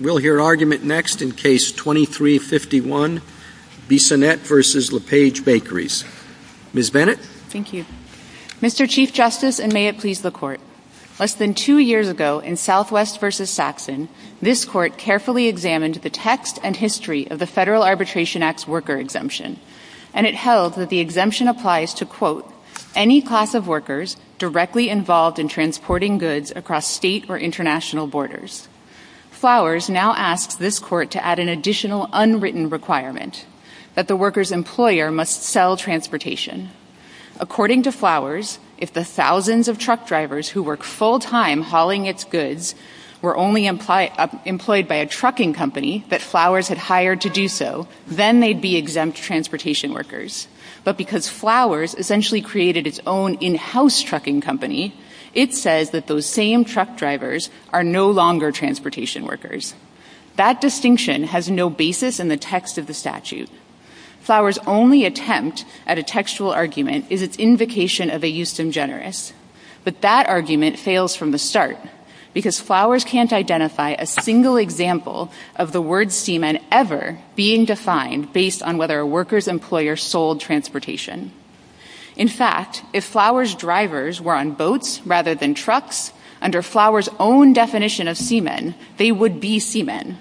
We'll hear argument next in Case 2351, Bissonnette v. LePage Bakeries. Ms. Bennett. Thank you. Mr. Chief Justice, and may it please the Court, less than two years ago in Southwest v. Saxon, this Court carefully examined the text and history of the Federal Arbitration Act's worker exemption, and it held that the exemption applies to, quote, any class of workers directly involved in transporting goods across state or international borders. Flowers now asks this Court to add an additional unwritten requirement, that the worker's employer must sell transportation. According to Flowers, if the thousands of truck drivers who work full-time hauling its goods were only employed by a trucking company that Flowers had hired to do so, then they'd be exempt transportation workers. But because Flowers essentially created its own in-house trucking company, it says that those same truck drivers are no longer transportation workers. That distinction has no basis in the text of the statute. Flowers' only attempt at a textual argument is its invocation of a justum generis. But that argument fails from the start, because Flowers can't identify a single example of the word seaman ever being defined based on whether a worker's employer sold transportation. In fact, if Flowers' drivers were on boats rather than trucks, under Flowers' own definition of seaman, they would be seaman.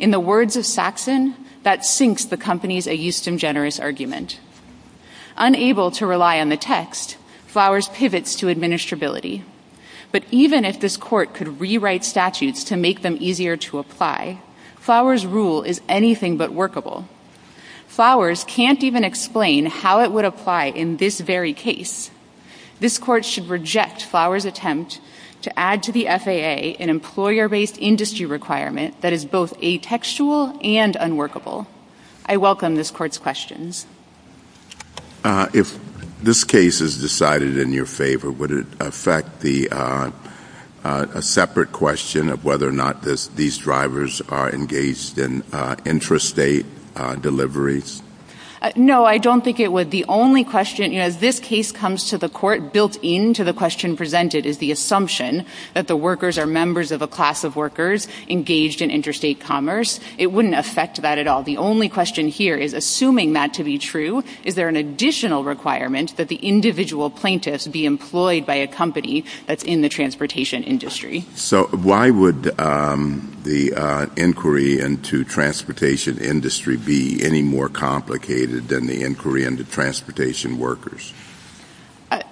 In the words of Saxon, that sinks the company's a justum generis argument. Unable to rely on the text, Flowers pivots to administrability. But even if this Court could rewrite statutes to make them easier to apply, Flowers' rule is anything but workable. Flowers can't even explain how it would apply in this very case. This Court should reject Flowers' attempt to add to the FAA an employer-based industry requirement that is both atextual and unworkable. I welcome this Court's questions. If this case is decided in your favor, would it affect a separate question of whether or No, I don't think it would. The only question, you know, as this case comes to the Court, built into the question presented is the assumption that the workers are members of a class of workers engaged in interstate commerce. It wouldn't affect that at all. The only question here is, assuming that to be true, is there an additional requirement that the individual plaintiffs be employed by a company that's in the transportation industry? So why would the inquiry into transportation industry be any more complicated than the inquiry into transportation workers?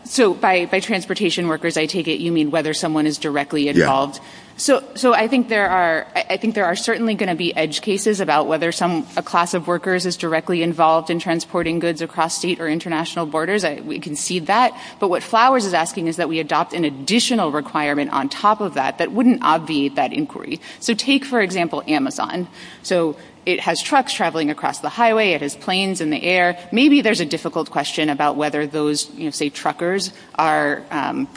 So by transportation workers, I take it you mean whether someone is directly involved. So I think there are certainly going to be edge cases about whether a class of workers is directly involved in transporting goods across state or international borders. We can see that. But what Flowers is asking is that we adopt an additional requirement on top of that that wouldn't obviate that inquiry. So take, for example, Amazon. So it has trucks traveling across the highway, it has planes in the air. Maybe there's a difficult question about whether those, say, truckers are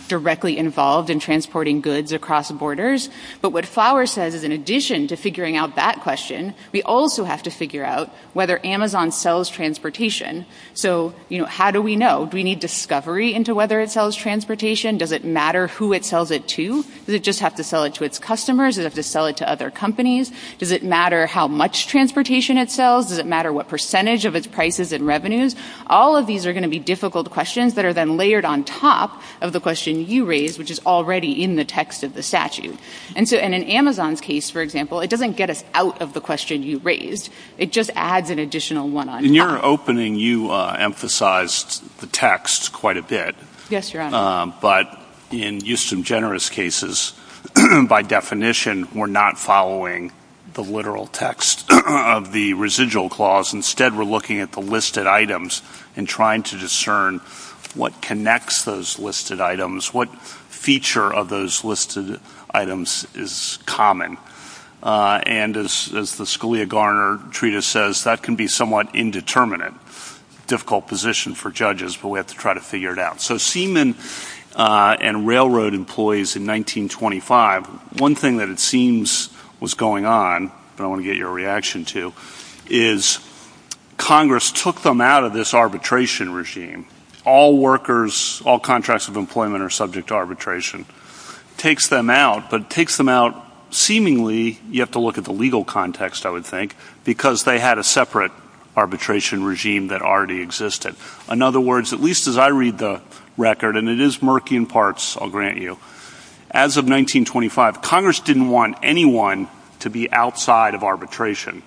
directly involved in transporting goods across borders. But what Flowers says is in addition to figuring out that question, we also have to figure out whether Amazon sells transportation. So how do we know? Do we need discovery into whether it sells transportation? Does it matter who it sells it to? Does it just have to sell it to its customers? Does it have to sell it to other companies? Does it matter how much transportation it sells? Does it matter what percentage of its prices and revenues? All of these are going to be difficult questions that are then layered on top of the question you raised, which is already in the text of the statute. And so in an Amazon's case, for example, it doesn't get us out of the question you raised. It just adds an additional one on top. In the opening, you emphasized the text quite a bit. But in Houston Generous cases, by definition, we're not following the literal text of the residual clause. Instead, we're looking at the listed items and trying to discern what connects those listed items, what feature of those listed items is common. And as the Scalia-Garner treatise says, that can be somewhat indeterminate, difficult position for judges, but we have to try to figure it out. So seamen and railroad employees in 1925, one thing that it seems was going on, but I want to get your reaction to, is Congress took them out of this arbitration regime. All workers, all contracts of employment are subject to arbitration. Takes them out, but takes them out seemingly, you have to look at the legal context, I would think, because they had a separate arbitration regime that already existed. In other words, at least as I read the record, and it is murky in parts, I'll grant you, as of 1925, Congress didn't want anyone to be outside of arbitration.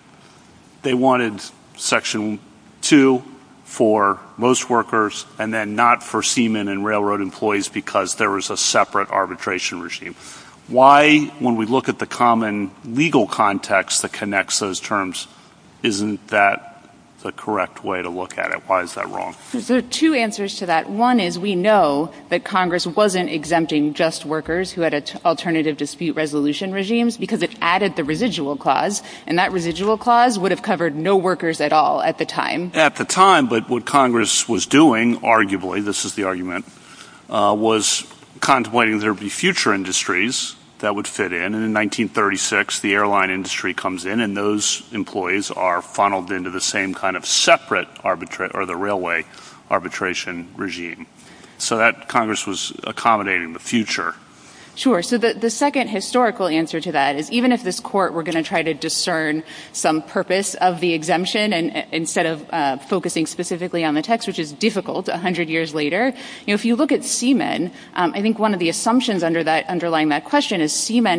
They wanted Section 2 for most workers and then not for seamen and railroad employees because there was a separate arbitration regime. Why, when we look at the common legal context that connects those terms, isn't that the correct way to look at it? Why is that wrong? There are two answers to that. One is we know that Congress wasn't exempting just workers who had alternative dispute resolution regimes because it added the residual clause, and that residual clause would have covered no workers at all at the time. At the time, but what Congress was doing, arguably, this is the argument, was contemplating there would be future industries that would fit in, and in 1936, the airline industry comes in and those employees are funneled into the same kind of separate arbitration or the railway arbitration regime. So that Congress was accommodating the future. Sure. So the second historical answer to that is even if this Court were going to try to discern some purpose of the exemption instead of focusing specifically on the text, which is difficult a hundred years later, if you look at seamen, I think one of the assumptions underlying that question is seamen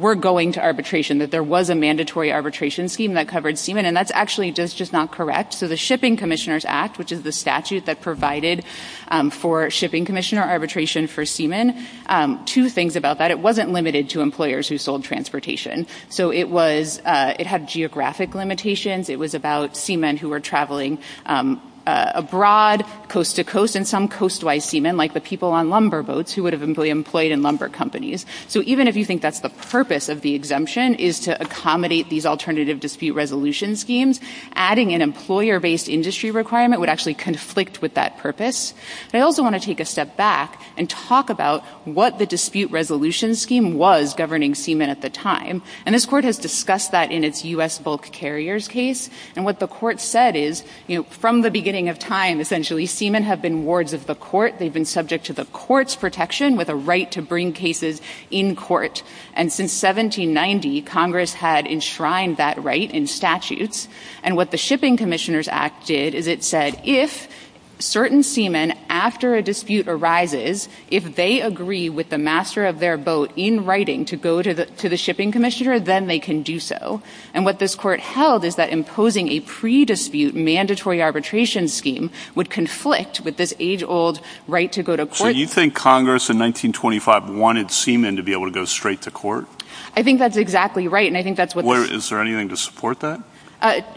were going to arbitration, that there was a mandatory arbitration scheme that covered seamen, and that's actually just not correct. So the Shipping Commissioners Act, which is the statute that provided for shipping commissioner arbitration for seamen, two things about that. It wasn't limited to employers who sold transportation. So it was, it had geographic limitations. It was about seamen who were traveling abroad, coast-to-coast, and some coast-wise seamen, like the people on lumber boats who would have been employed in lumber companies. So even if you think that's the purpose of the exemption, is to accommodate these alternative dispute resolution schemes, adding an employer-based industry requirement would actually conflict with that purpose. But I also want to take a step back and talk about what the dispute resolution scheme was governing seamen at the time. And this court has discussed that in its U.S. bulk carriers case. And what the court said is, from the beginning of time, essentially, seamen have been wards of the court. They've been subject to the court's protection with a right to bring cases in court. And since 1790, Congress had enshrined that right in statutes. And what the Shipping Commissioners Act did is it said, if certain seamen, after a dispute arises, if they agree with the master of their boat in writing to go to the shipping commissioner, then they can do so. And what this court held is that imposing a pre-dispute mandatory arbitration scheme would conflict with this age-old right to go to court. So you think Congress, in 1925, wanted seamen to be able to go straight to court? I think that's exactly right. And I think that's what the— Is there anything to support that?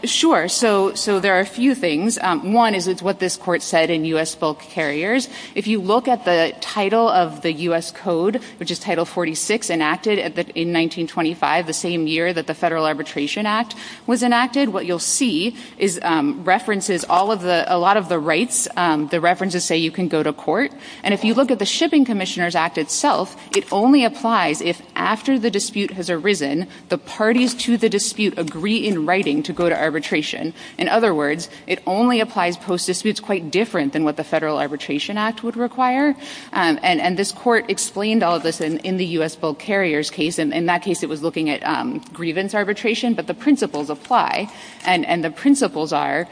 Sure. So there are a few things. One is what this court said in U.S. bulk carriers. If you look at the title of the U.S. Code, which is Title 46, enacted in 1925, the same year that the Federal Arbitration Act was enacted, what you'll see is references all of the—a lot of the rights. The references say you can go to court. And if you look at the Shipping Commissioners Act itself, it only applies if, after the dispute has arisen, the parties to the dispute agree in writing to go to arbitration. In other words, it only applies post-disputes quite different than what the Federal Arbitration Act would require. And this court explained all of this in the U.S. bulk carriers case. In that case, it was looking at grievance arbitration, but the principles apply. And the principles are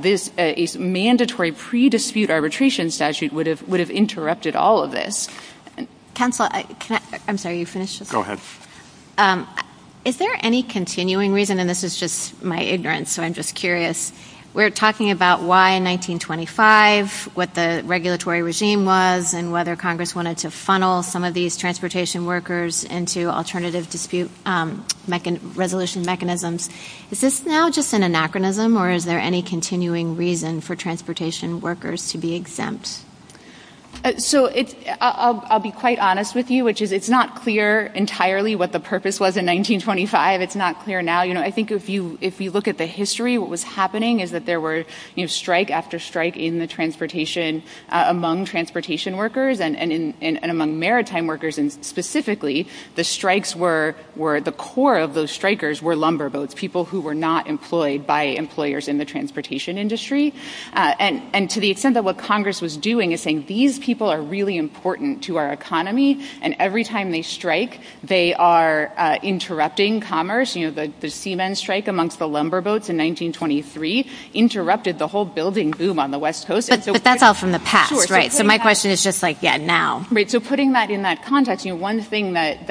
this mandatory pre-dispute arbitration statute would have interrupted all of this. Counsel, can I—I'm sorry, you finished just a second. Go ahead. Is there any continuing reason—and this is just my ignorance, so I'm just going to be curious—we're talking about why 1925, what the regulatory regime was, and whether Congress wanted to funnel some of these transportation workers into alternative dispute resolution mechanisms. Is this now just an anachronism, or is there any continuing reason for transportation workers to be exempt? So it's—I'll be quite honest with you, which is it's not clear entirely what the purpose was in 1925. It's not clear now. You know, I think if you—if you look at the history, what was happening is that there were, you know, strike after strike in the transportation—among transportation workers and in—and among maritime workers, and specifically, the strikes were—the core of those strikers were lumberboats, people who were not employed by employers in the transportation industry. And to the extent that what Congress was doing is saying, these people are really important to our economy, and every time they strike, they are interrupting commerce. You know, the seamen strike amongst the lumberboats in 1923 interrupted the whole building boom on the West Coast, and so— But that's all from the past, right? Sure. So putting that— So my question is just like, yeah, now. Right. So putting that in that context, you know, one thing that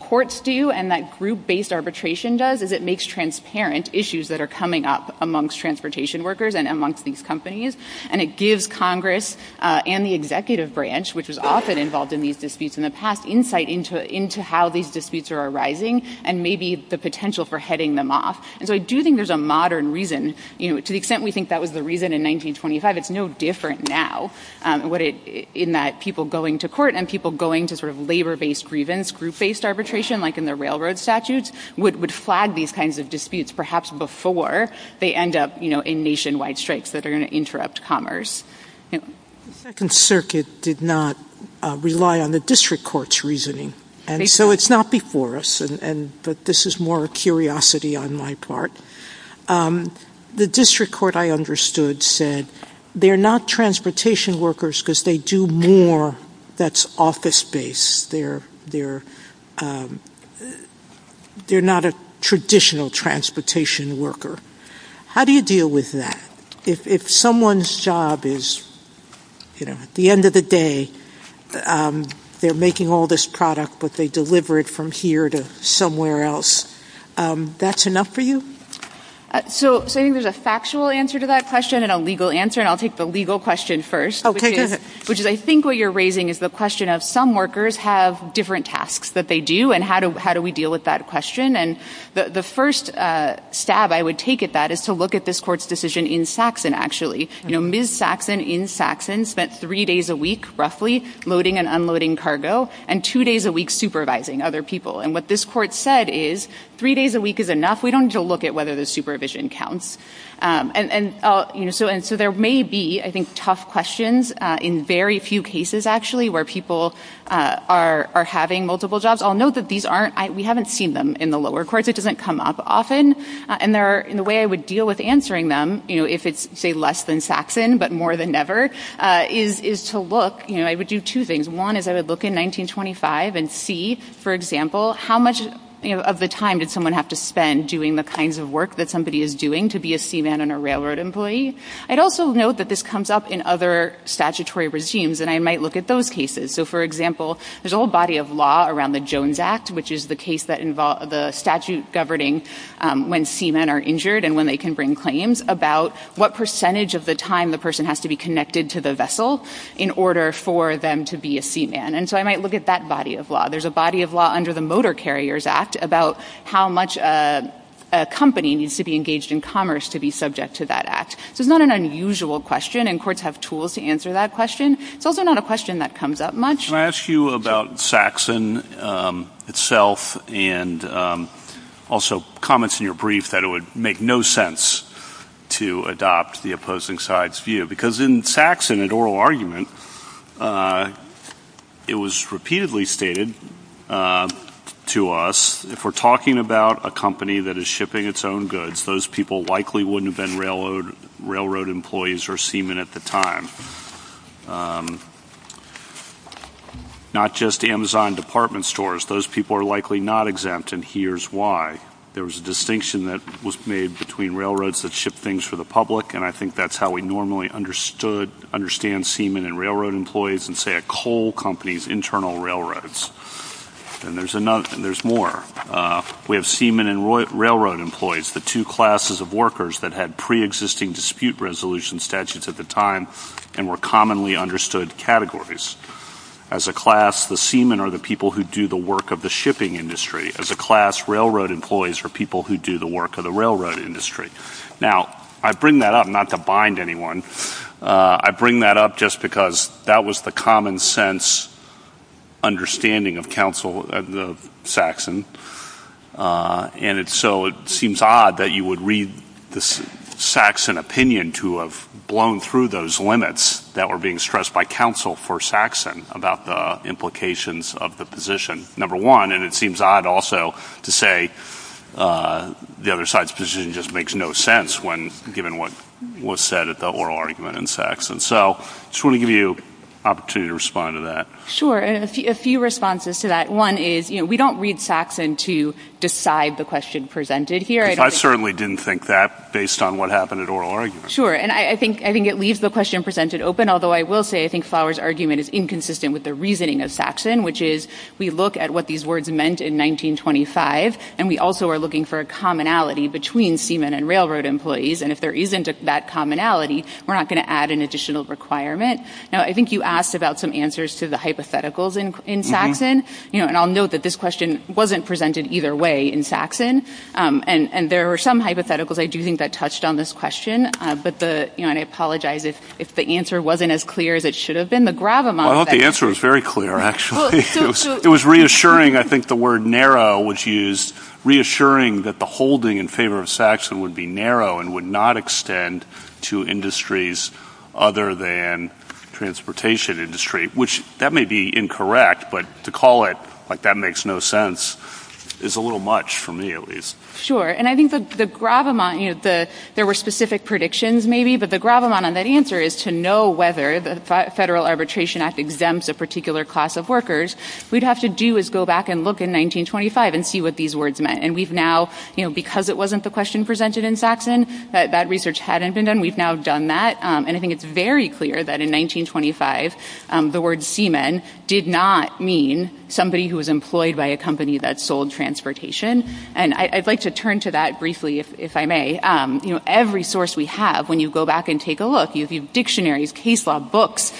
courts do and that group-based arbitration does is it makes transparent issues that are coming up amongst transportation workers and amongst these companies, and it gives Congress and the executive branch, which was often involved in these disputes in the past, insight into how these disputes are for heading them off. And so I do think there's a modern reason, you know, to the extent we think that was the reason in 1925, it's no different now, what it—in that people going to court and people going to sort of labor-based grievance, group-based arbitration, like in the railroad statutes, would flag these kinds of disputes, perhaps before they end up, you know, in nationwide strikes that are going to interrupt commerce. The Second Circuit did not rely on the district court's reasoning, and so it's not before us, but this is more a curiosity on my part. The district court, I understood, said they're not transportation workers because they do more that's office-based. They're not a traditional transportation worker. How do you deal with that? If someone's job is, you know, at the end of the day, they're making all this product, but they deliver it from here to somewhere else, that's enough for you? So I think there's a factual answer to that question and a legal answer, and I'll take the legal question first, which is I think what you're raising is the question of some workers have different tasks that they do, and how do we deal with that question? And the first stab I would take at that is to look at this court's decision in Saxon, actually. You know, Ms. Saxon in Saxon spent three days a week, roughly, loading and unloading cargo, and two days a week supervising other people, and what this court said is three days a week is enough. We don't need to look at whether the supervision counts, and so there may be, I think, tough questions in very few cases, actually, where people are having multiple jobs. I'll note that these aren't, we haven't seen them in the lower courts. It doesn't come up often, and the way I would deal with answering them, you know, if it's, say, less than Saxon, but more than ever, is to look, you know, I would do two things. One is I would look in 1925 and see, for example, how much of the time did someone have to spend doing the kinds of work that somebody is doing to be a seaman and a railroad employee? I'd also note that this comes up in other statutory regimes, and I might look at those cases. So, for example, there's a whole body of law around the Jones Act, which is the case that involves the statute governing when seamen are injured and when they can bring claims about what percentage of the time the person has to be connected to the vessel in order for them to be a seaman. And so I might look at that body of law. There's a body of law under the Motor Carriers Act about how much a company needs to be engaged in commerce to be subject to that act. So it's not an unusual question, and courts have tools to answer that question. It's also not a question that comes up much. Can I ask you about Saxon itself and also comments in your brief that it would make no sense to adopt the opposing side's view? Because in Saxon, an oral argument, it was repeatedly stated to us, if we're talking about a company that is shipping its own goods, those people likely wouldn't have been railroad employees or seamen at the time. Not just Amazon department stores. Those people are likely not exempt, and here's why. There was a distinction that was made between railroads that ship things for the public, and I think that's how we normally understood, understand seamen and railroad employees and say a coal company's internal railroads. And there's more. We have seamen and railroad employees, the two classes of workers that had preexisting dispute resolution statutes at the time and were commonly understood categories. As a class, the seamen are the people who do the work of the shipping industry. As a class, railroad employees are people who do the work of the railroad industry. Now, I bring that up, not to bind anyone, I bring that up just because that was the common sense understanding of Saxon, and so it seems odd that you would read the Saxon opinion to have blown through those limits that were being stressed by counsel for Saxon about the implications of the position. Number one, and it seems odd also to say the other side's position just makes no sense when given what was said at the oral argument in Saxon. So I just want to give you an opportunity to respond to that. Sure. A few responses to that. One is, you know, we don't read Saxon to decide the question presented here. I certainly didn't think that based on what happened at oral arguments. Sure. And I think it leaves the question presented open, although I will say I think Flower's with the reasoning of Saxon, which is we look at what these words meant in 1925, and we also are looking for a commonality between seamen and railroad employees, and if there isn't that commonality, we're not going to add an additional requirement. Now, I think you asked about some answers to the hypotheticals in Saxon, and I'll note that this question wasn't presented either way in Saxon, and there were some hypotheticals I do think that touched on this question, but I apologize if the answer wasn't as clear as it should have been. Well, I hope the answer was very clear, actually. It was reassuring. I think the word narrow was used, reassuring that the holding in favor of Saxon would be narrow and would not extend to industries other than transportation industry, which that may be incorrect, but to call it like that makes no sense is a little much for me, at least. Sure. And I think the gravamonte, you know, there were specific predictions maybe, but the gravamonte on that answer is to know whether the Federal Arbitration Act exempts a particular class of workers, we'd have to do is go back and look in 1925 and see what these words meant, and we've now, you know, because it wasn't the question presented in Saxon, that research hadn't been done, we've now done that, and I think it's very clear that in 1925, the word seamen did not mean somebody who was employed by a company that sold transportation, and I'd like to turn to that briefly, if I may. Every source we have, when you go back and take a look, you have dictionaries, case law books,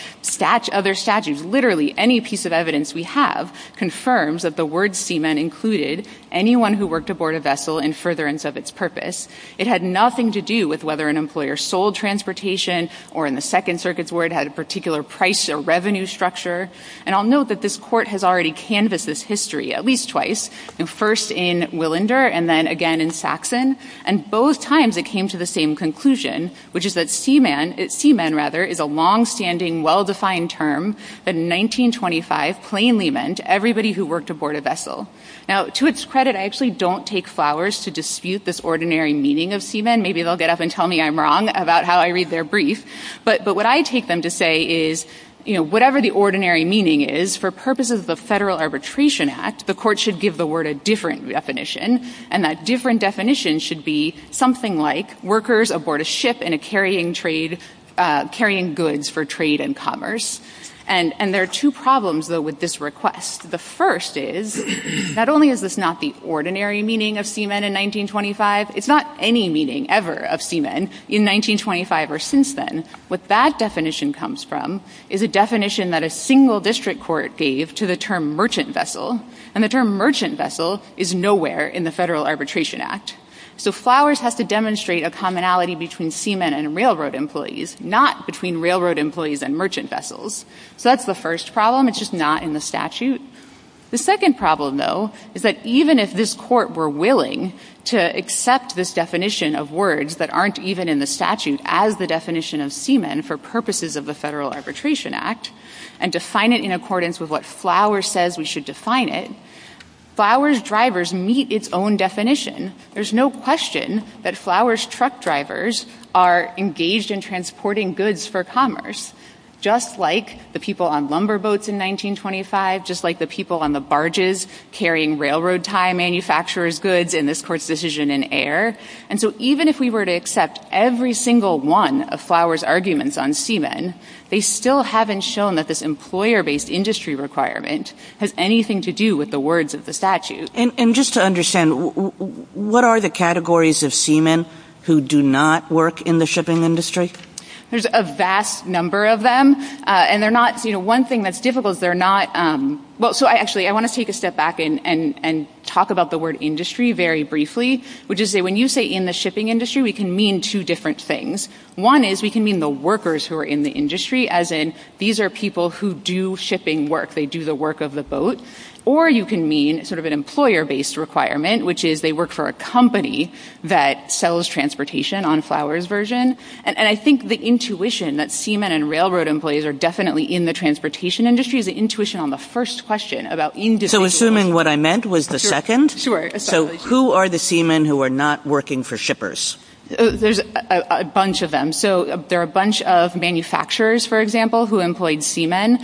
other statutes, literally any piece of evidence we have confirms that the word seaman included anyone who worked aboard a vessel in furtherance of its purpose. It had nothing to do with whether an employer sold transportation or in the Second Circuit's word had a particular price or revenue structure, and I'll note that this Court has already canvassed this history at least twice, first in Willinder and then again in Saxon, and at both times it came to the same conclusion, which is that seaman, seamen rather, is a long-standing, well-defined term that in 1925 plainly meant everybody who worked aboard a vessel. Now, to its credit, I actually don't take flowers to dispute this ordinary meaning of seamen. Maybe they'll get up and tell me I'm wrong about how I read their brief, but what I take them to say is, you know, whatever the ordinary meaning is, for purposes of the Federal Arbitration Act, the Court should give the word a different definition, and that different definition should be something like workers aboard a ship in a carrying trade, carrying goods for trade and commerce. And there are two problems, though, with this request. The first is, not only is this not the ordinary meaning of seaman in 1925, it's not any meaning ever of seaman in 1925 or since then. What that definition comes from is a definition that a single district court gave to the term merchant vessel is nowhere in the Federal Arbitration Act. So flowers has to demonstrate a commonality between seamen and railroad employees, not between railroad employees and merchant vessels. So that's the first problem. It's just not in the statute. The second problem, though, is that even if this Court were willing to accept this definition of words that aren't even in the statute as the definition of seamen for purposes of the Federal Arbitration Act, and define it in accordance with what flowers says we should define it, flowers' drivers meet its own definition. There's no question that flowers' truck drivers are engaged in transporting goods for commerce, just like the people on lumber boats in 1925, just like the people on the barges carrying railroad-tie manufacturer's goods in this Court's decision in air. And so even if we were to accept every single one of flowers' arguments on seamen, they have nothing to do with the words of the statute. And just to understand, what are the categories of seamen who do not work in the shipping industry? There's a vast number of them. And they're not, you know, one thing that's difficult is they're not, well, so I actually, I want to take a step back and talk about the word industry very briefly, which is when you say in the shipping industry, we can mean two different things. One is we can mean the workers who are in the industry, as in these are people who do shipping work. They do the work of the boat. Or you can mean sort of an employer-based requirement, which is they work for a company that sells transportation on flowers' version. And I think the intuition that seamen and railroad employees are definitely in the transportation industry is the intuition on the first question about individualization. So assuming what I meant was the second? Sure. So who are the seamen who are not working for shippers? There's a bunch of them. So there are a bunch of manufacturers, for example, who employed seamen.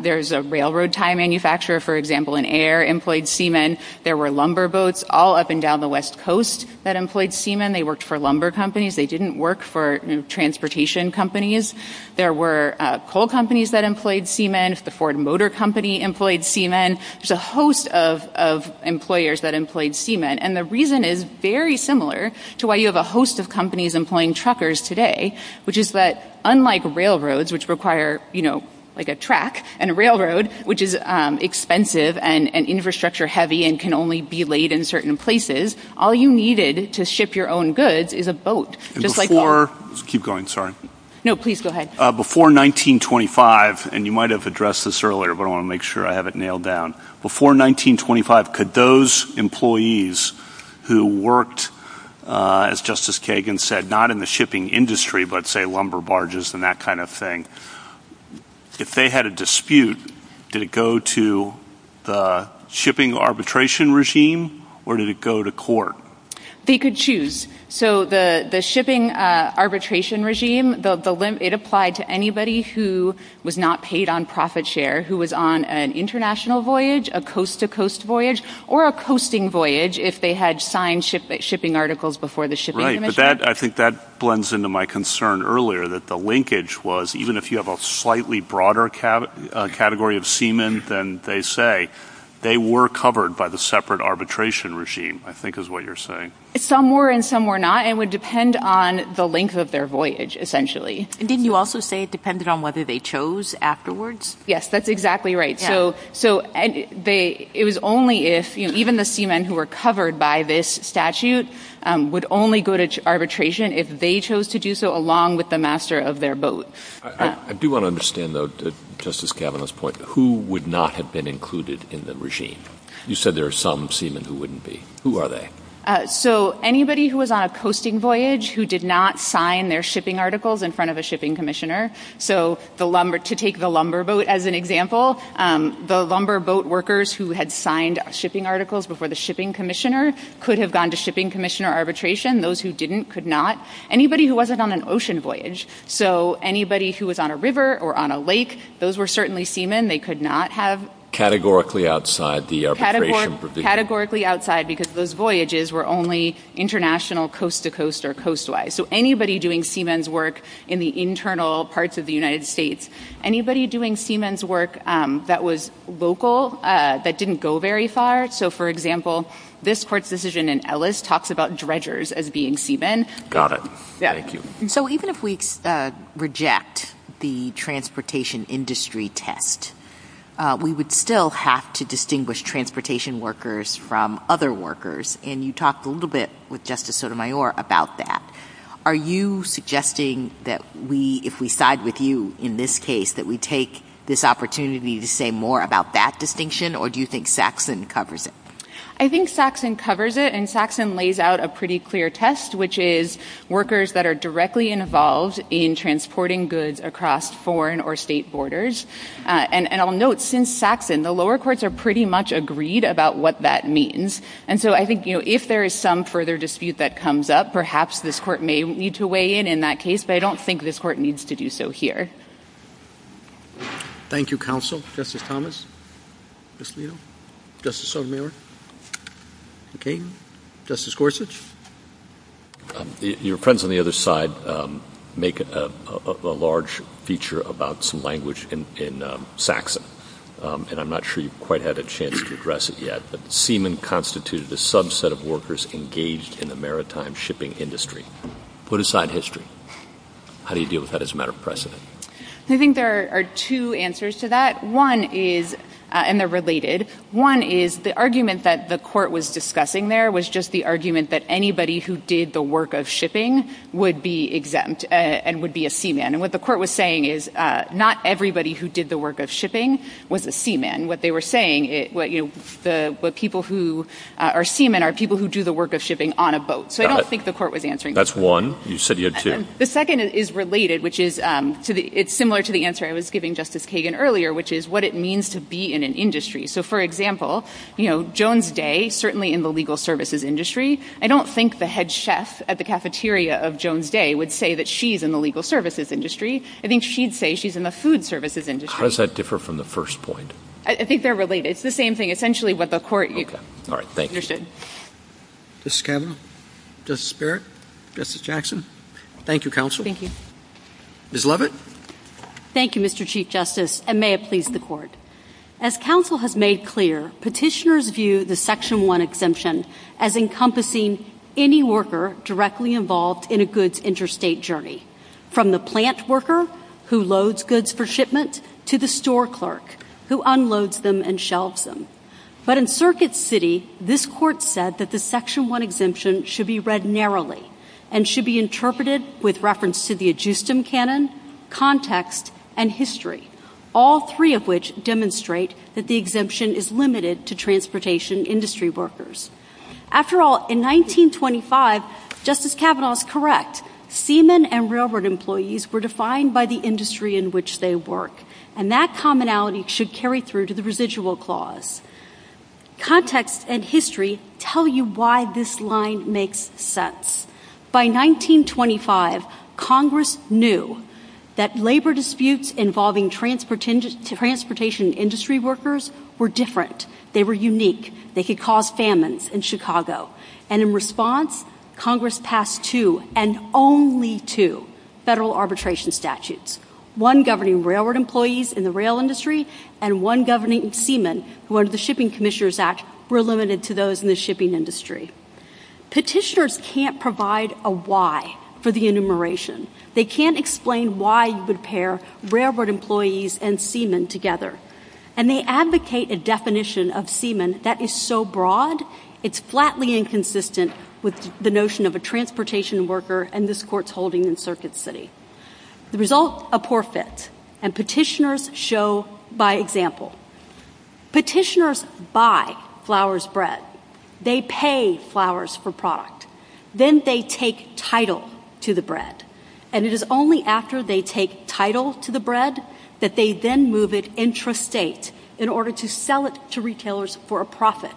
There's a railroad tie manufacturer, for example, in Ayer, employed seamen. There were lumber boats all up and down the West Coast that employed seamen. They worked for lumber companies. They didn't work for transportation companies. There were coal companies that employed seamen. The Ford Motor Company employed seamen. There's a host of employers that employed seamen. And the reason is very similar to why you have a host of companies employing truckers today, which is that unlike railroads, which require, you know, like a track, and a railroad, which is expensive and infrastructure-heavy and can only be laid in certain places, all you needed to ship your own goods is a boat, just like a car. Before 1925, and you might have addressed this earlier, but I want to make sure I have it nailed down, before 1925, could those employees who worked, as Justice Kagan said, not in the shipping industry, but, say, lumber barges and that kind of thing, if they had a dispute, did it go to the shipping arbitration regime, or did it go to court? They could choose. So the shipping arbitration regime, it applied to anybody who was not paid on profit share, who was on an international voyage, a coast-to-coast voyage, or a coasting voyage, if they had signed shipping articles before the shipping commission. But that, I think that blends into my concern earlier, that the linkage was, even if you have a slightly broader category of seamen than they say, they were covered by the separate arbitration regime, I think is what you're saying. Some were and some were not, and it would depend on the length of their voyage, essentially. And didn't you also say it depended on whether they chose afterwards? Yes, that's exactly right. So it was only if, even the seamen who were covered by this statute would only go to arbitration if they chose to do so along with the master of their boat. I do want to understand, though, Justice Kavanaugh's point, who would not have been included in the regime? You said there are some seamen who wouldn't be. Who are they? So anybody who was on a coasting voyage who did not sign their shipping articles in front of a shipping commissioner. So to take the lumber boat as an example, the lumber boat workers who had signed shipping articles before the shipping commissioner could have gone to shipping commissioner arbitration. Those who didn't could not. Anybody who wasn't on an ocean voyage. So anybody who was on a river or on a lake, those were certainly seamen. They could not have... Categorically outside the arbitration provision. Categorically outside because those voyages were only international, coast to coast, or coast-wise. So anybody doing seamen's work in the internal parts of the United States. Anybody doing seamen's work that was local, that didn't go very far. So for example, this court's decision in Ellis talks about dredgers as being seamen. Got it. Thank you. So even if we reject the transportation industry test, we would still have to distinguish transportation workers from other workers. And you talked a little bit with Justice Sotomayor about that. Are you suggesting that if we side with you in this case, that we take this opportunity to say more about that distinction? Or do you think Saxon covers it? I think Saxon covers it. And Saxon lays out a pretty clear test, which is workers that are directly involved in transporting goods across foreign or state borders. And I'll note, since Saxon, the lower courts are pretty much agreed about what that means. And so I think if there is some further dispute that comes up, perhaps this court may need to weigh in in that case. But I don't think this court needs to do so here. Thank you, counsel. Justice Thomas? Ms. Leto? Justice Sotomayor? Okay. Justice Gorsuch? Your friends on the other side make a large feature about some language in Saxon. And I'm not sure you've quite had a chance to address it yet. But seamen constituted a subset of workers engaged in the maritime shipping industry. Put aside history. How do you deal with that as a matter of precedent? I think there are two answers to that. One is, and they're related, one is the argument that the court was discussing there was just the argument that anybody who did the work of shipping would be exempt and would be a seaman. And what the court was saying is not everybody who did the work of shipping was a seaman. What they were saying, what people who are seamen are people who do the work of shipping on a boat. So I don't think the court was answering that. That's one. You said you had two. The second is related, which is similar to the answer I was giving Justice Kagan earlier, which is what it means to be in an industry. So for example, you know, Jones Day, certainly in the legal services industry, I don't think the head chef at the cafeteria of Jones Day would say that she's in the legal services industry. I think she'd say she's in the food services industry. How does that differ from the first point? I think they're related. It's the same thing. Essentially what the court understood. Okay. All right. Thank you. Justice Kavanaugh? Justice Barrett? Justice Jackson? Thank you, counsel. Thank you. Ms. Levitt? Thank you, Mr. Chief Justice, and may it please the court. As counsel has made clear, petitioners view the Section 1 exemption as encompassing any worker directly involved in a goods interstate journey, from the plant worker who loads goods for shipment to the store clerk who unloads them and shelves them. But in Circuit City, this court said that the Section 1 exemption should be read narrowly and should be interpreted with reference to the adjustum canon, context, and history, all three of which demonstrate that the exemption is limited to transportation industry workers. After all, in 1925, Justice Kavanaugh is correct. Seamen and railroad employees were defined by the industry in which they work. And that commonality should carry through to the residual clause. Context and history tell you why this line makes sense. By 1925, Congress knew that labor disputes involving transportation industry workers were different. They were unique. They could cause famines in Chicago. And in response, Congress passed two, and only two, federal arbitration statutes, one governing railroad employees in the rail industry and one governing seamen who under the Shipping Commissioners Act were limited to those in the shipping industry. Petitioners can't provide a why for the enumeration. They can't explain why you would pair railroad employees and seamen together. And they advocate a definition of seamen that is so broad. It's flatly inconsistent with the notion of a transportation worker and this court's holding in Circuit City. The result, a poor fit. And petitioners show by example. Petitioners buy Flowers Bread. They pay Flowers for product. Then they take title to the bread. And it is only after they take title to the bread that they then move it intrastate in order to sell it to retailers for a profit.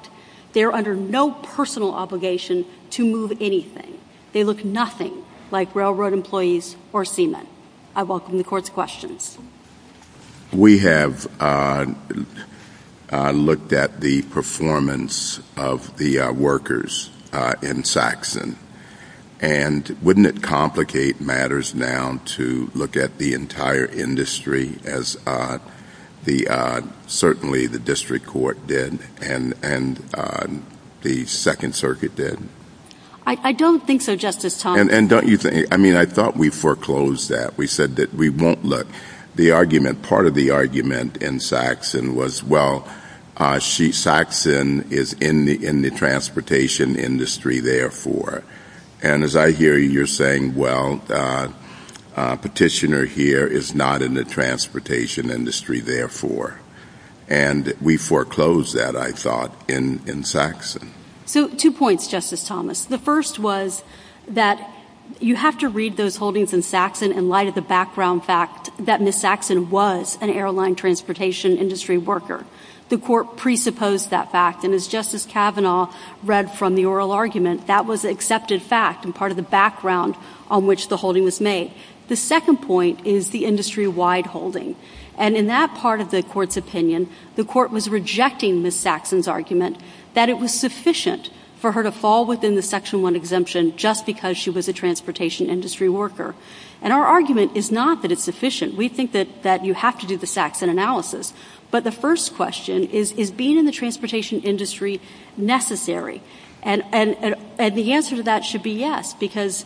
They are under no personal obligation to move anything. They look nothing like railroad employees or seamen. I welcome the court's questions. We have looked at the performance of the workers in Saxon. And wouldn't it complicate matters now to look at the entire industry as certainly the Second Circuit did? I don't think so, Justice Thomas. And don't you think, I mean, I thought we foreclosed that. We said that we won't look. The argument, part of the argument in Saxon was, well, Saxon is in the transportation industry, therefore. And as I hear you, you're saying, well, petitioner here is not in the transportation industry, therefore. And we foreclosed that, I thought, in Saxon. So two points, Justice Thomas. The first was that you have to read those holdings in Saxon in light of the background fact that Ms. Saxon was an airline transportation industry worker. The court presupposed that fact. And as Justice Kavanaugh read from the oral argument, that was an accepted fact and part of the background on which the holding was made. The second point is the industry-wide holding. And in that part of the court's opinion, the court was rejecting Ms. Saxon's argument that it was sufficient for her to fall within the Section 1 exemption just because she was a transportation industry worker. And our argument is not that it's sufficient. We think that you have to do the Saxon analysis. But the first question is, is being in the transportation industry necessary? And the answer to that should be yes, because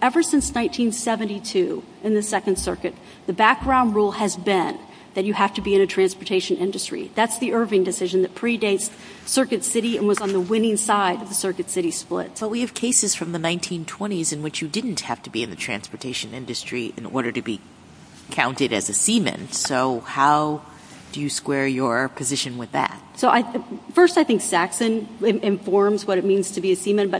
ever since 1972 in the Second Circuit, the background rule has been that you have to be in a transportation industry. That's the Irving decision that predates Circuit City and was on the winning side of the Circuit City split. But we have cases from the 1920s in which you didn't have to be in the transportation industry in order to be counted as a seaman. So how do you square your position with that? So first, I think Saxon informs what it means to be a seaman.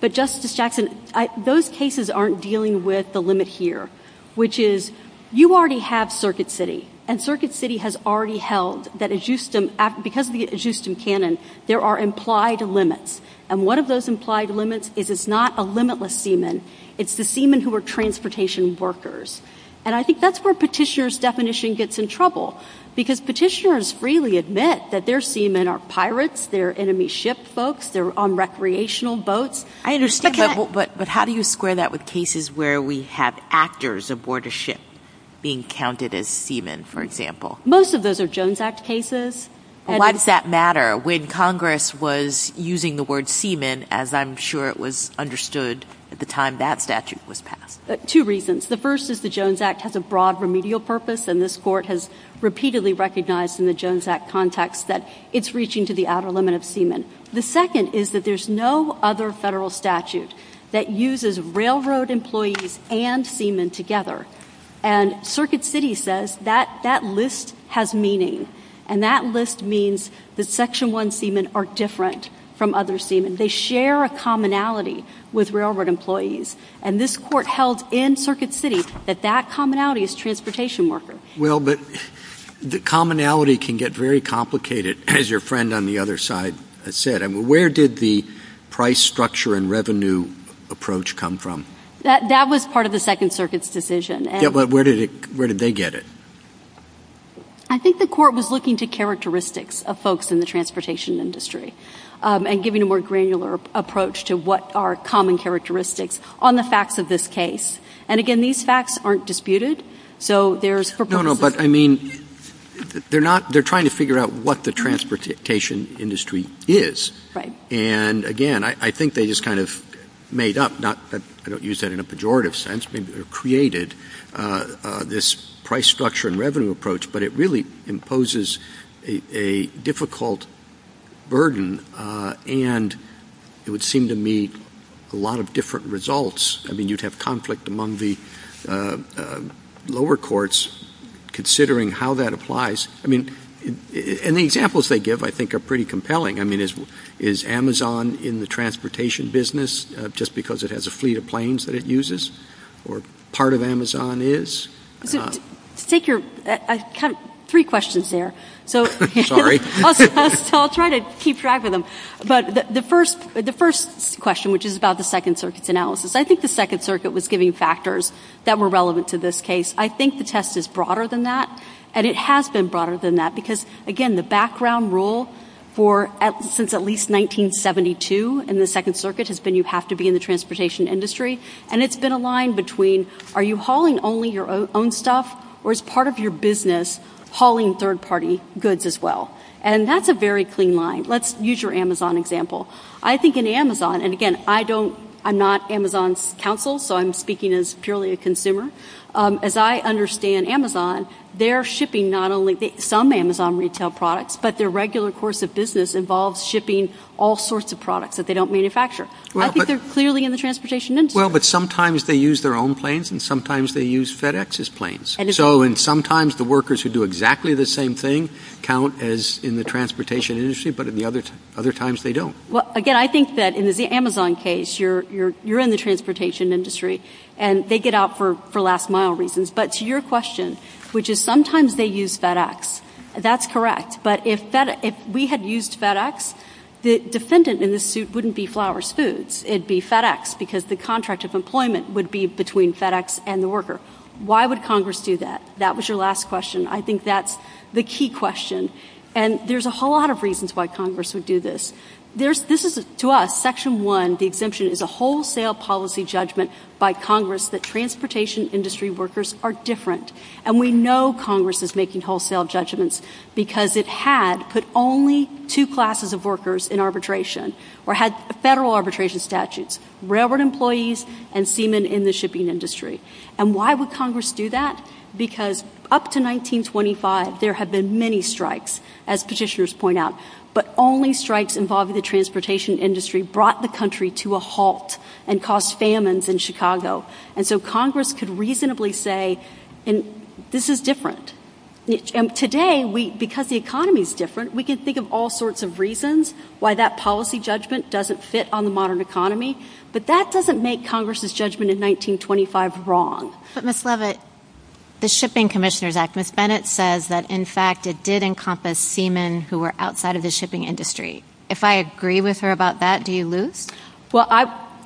But Justice Saxon, those cases aren't dealing with the limit here, which is you already have Circuit City. And Circuit City has already held that, because of the ajustum canon, there are implied limits. And one of those implied limits is it's not a limitless seaman. It's the seaman who are transportation workers. And I think that's where Petitioner's definition gets in trouble. Because Petitioner's freely admit that their seaman are pirates, they're enemy ship folks, they're on recreational boats. I understand, but how do you square that with cases where we have actors aboard a ship being counted as seaman, for example? Most of those are Jones Act cases. And why does that matter when Congress was using the word seaman, as I'm sure it was understood at the time that statute was passed? Two reasons. The first is the Jones Act has a broad remedial purpose. And this Court has repeatedly recognized in the Jones Act context that it's reaching to the outer limit of seaman. The second is that there's no other federal statute that uses railroad employees and seaman together. And Circuit City says that that list has meaning. And that list means that Section 1 seaman are different from other seaman. They share a commonality with railroad employees. And this Court held in Circuit City that that commonality is transportation worker. Well, but the commonality can get very complicated, as your friend on the other side said. I mean, where did the price structure and revenue approach come from? That was part of the Second Circuit's decision. Yeah, but where did they get it? I think the Court was looking to characteristics of folks in the transportation industry and giving a more granular approach to what are common characteristics on the facts of this case. And again, these facts aren't disputed. So there's purposes. No, no, but I mean, they're trying to figure out what the transportation industry is. Right. And again, I think they just kind of made up, I don't use that in a pejorative sense, maybe they created this price structure and revenue approach. But it really imposes a difficult burden, and it would seem to meet a lot of different results. I mean, you'd have conflict among the lower courts considering how that applies. I mean, and the examples they give, I think, are pretty compelling. I mean, is Amazon in the transportation business just because it has a fleet of planes that it uses, or part of Amazon is? So to take your, I have three questions there. So I'll try to keep track of them. But the first question, which is about the Second Circuit's analysis. I think the Second Circuit was giving factors that were relevant to this case. I think the test is broader than that, and it has been broader than that. Because again, the background rule since at least 1972 in the Second Circuit has been you have to be in the transportation industry. And it's been a line between, are you hauling only your own stuff, or is part of your business hauling third-party goods as well? And that's a very clean line. Let's use your Amazon example. I think in Amazon, and again, I don't, I'm not Amazon's counsel, so I'm speaking as purely a consumer. As I understand Amazon, they're shipping not only some Amazon retail products, but their regular course of business involves shipping all sorts of products that they don't manufacture. I think they're clearly in the transportation industry. Well, but sometimes they use their own planes, and sometimes they use FedEx's planes. So and sometimes the workers who do exactly the same thing count as in the transportation industry, but in the other times they don't. Well, again, I think that in the Amazon case, you're in the transportation industry, and they get out for last mile reasons. But to your question, which is sometimes they use FedEx, that's correct. But if we had used FedEx, the defendant in this suit wouldn't be Flowers Foods, it'd be FedEx, because the contract of employment would be between FedEx and the worker. Why would Congress do that? That was your last question. I think that's the key question. And there's a whole lot of reasons why Congress would do this. This is, to us, Section 1, the exemption, is a wholesale policy judgment by Congress that transportation industry workers are different. And we know Congress is making wholesale judgments, because it had put only two classes of workers in arbitration, or had federal arbitration statutes, railroad employees and seamen in the shipping industry. And why would Congress do that? Because up to 1925, there had been many strikes, as petitioners point out. But only strikes involving the transportation industry brought the country to a halt and caused famines in Chicago. And so Congress could reasonably say, this is different. Today, because the economy is different, we can think of all sorts of reasons why that policy judgment doesn't fit on the modern economy. But that doesn't make Congress's judgment in 1925 wrong. But Ms. Leavitt, the Shipping Commissioners Act, Ms. Bennett says that, in fact, it did encompass seamen who were outside of the shipping industry. If I agree with her about that, do you lose? Well,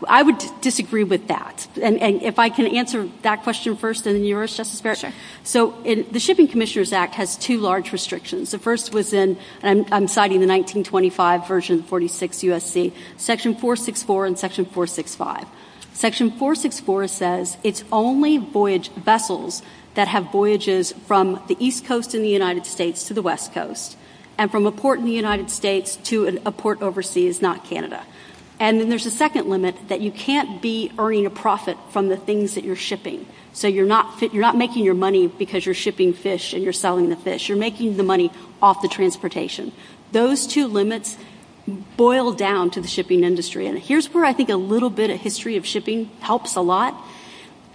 I would disagree with that. And if I can answer that question first, and then you, Mrs. Justice Barrett. So the Shipping Commissioners Act has two large restrictions. The first was in, and I'm citing the 1925 version, 46 USC, Section 464 and Section 465. Section 464 says it's only voyage vessels that have voyages from the East Coast in the United States to the West Coast, and from a port in the United States to a port overseas, not Canada. And then there's a second limit, that you can't be earning a profit from the things that you're shipping. So you're not making your money because you're shipping fish and you're selling the fish. You're making the money off the transportation. Those two limits boil down to the shipping industry. And here's where I think a little bit of history of shipping helps a lot.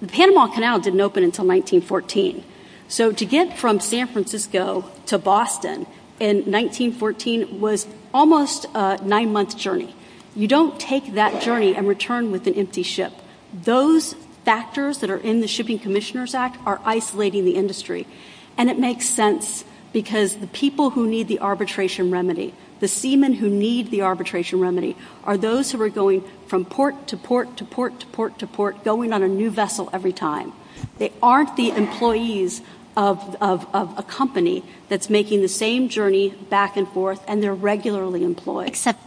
The Panama Canal didn't open until 1914. So to get from San Francisco to Boston in 1914 was almost a nine-month journey. You don't take that journey and return with an empty ship. Those factors that are in the Shipping Commissioners Act are isolating the industry. And it makes sense because the people who need the arbitration remedy, the seamen who need the arbitration remedy, are those who are going from port to port to port to port to port, going on a new vessel every time. They aren't the employees of a company that's making the same journey back and forth, and they're regularly employed. Except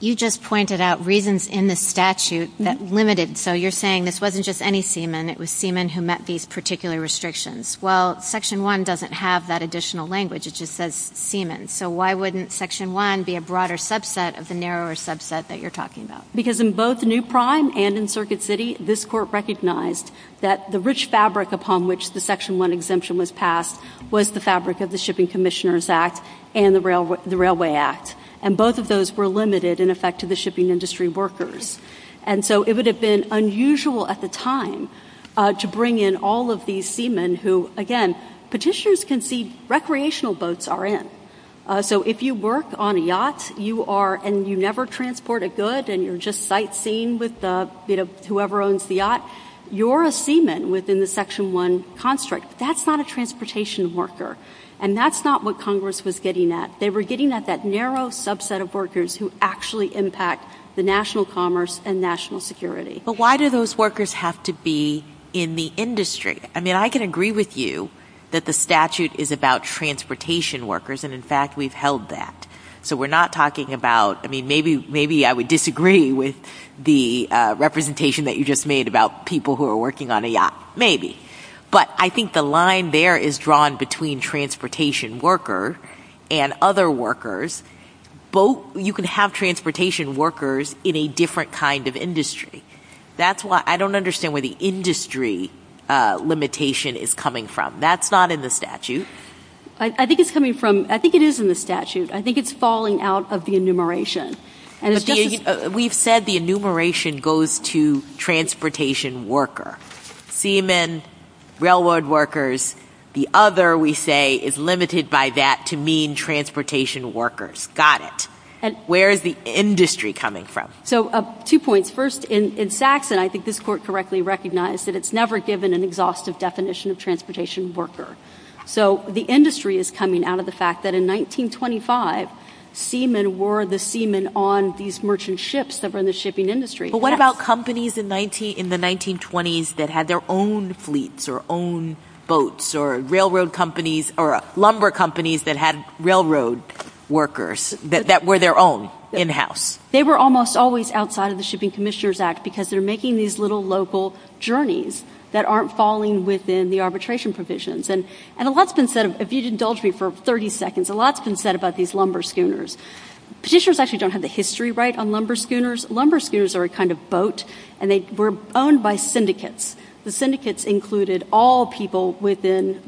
you just pointed out reasons in the statute that limited. So you're saying this wasn't just any seaman, it was seamen who met these particular restrictions. Well, Section 1 doesn't have that additional language. It just says seamen. So why wouldn't Section 1 be a broader subset of the narrower subset that you're talking about? Because in both New Prime and in Circuit City, this Court recognized that the rich fabric upon which the Section 1 exemption was passed was the fabric of the Shipping Commissioners Act and the Railway Act. And both of those were limited, in effect, to the shipping industry workers. And so it would have been unusual at the time to bring in all of these seamen who, again, petitioners can see recreational boats are in. So if you work on a yacht, and you never transport a good, and you're just sightseeing with whoever owns the yacht, you're a seaman within the Section 1 construct. That's not a transportation worker. And that's not what Congress was getting at. They were getting at that narrow subset of workers who actually impact the national commerce and national security. But why do those workers have to be in the industry? I mean, I can agree with you that the statute is about transportation workers, and in fact, we've held that. So we're not talking about, I mean, maybe I would disagree with the representation that you just made about people who are working on a yacht, maybe. But I think the line there is drawn between transportation worker and other workers. That's why I don't understand where the industry limitation is coming from. That's not in the statute. I think it's coming from, I think it is in the statute. I think it's falling out of the enumeration. We've said the enumeration goes to transportation worker, seamen, railroad workers. The other, we say, is limited by that to mean transportation workers. Got it. Where is the industry coming from? So two points. First, in Saxon, I think this court correctly recognized that it's never given an exhaustive definition of transportation worker. So the industry is coming out of the fact that in 1925, seamen were the seamen on these merchant ships that were in the shipping industry. But what about companies in the 1920s that had their own fleets or own boats or railroad companies or lumber companies that had railroad workers that were their own in-house? They were almost always outside of the Shipping Commissioners Act because they're making these little local journeys that aren't falling within the arbitration provisions. And a lot's been said, if you'd indulge me for 30 seconds, a lot's been said about these lumber schooners. Petitioners actually don't have the history right on lumber schooners. Lumber schooners are a kind of boat, and they were owned by syndicates. The syndicates included all people within,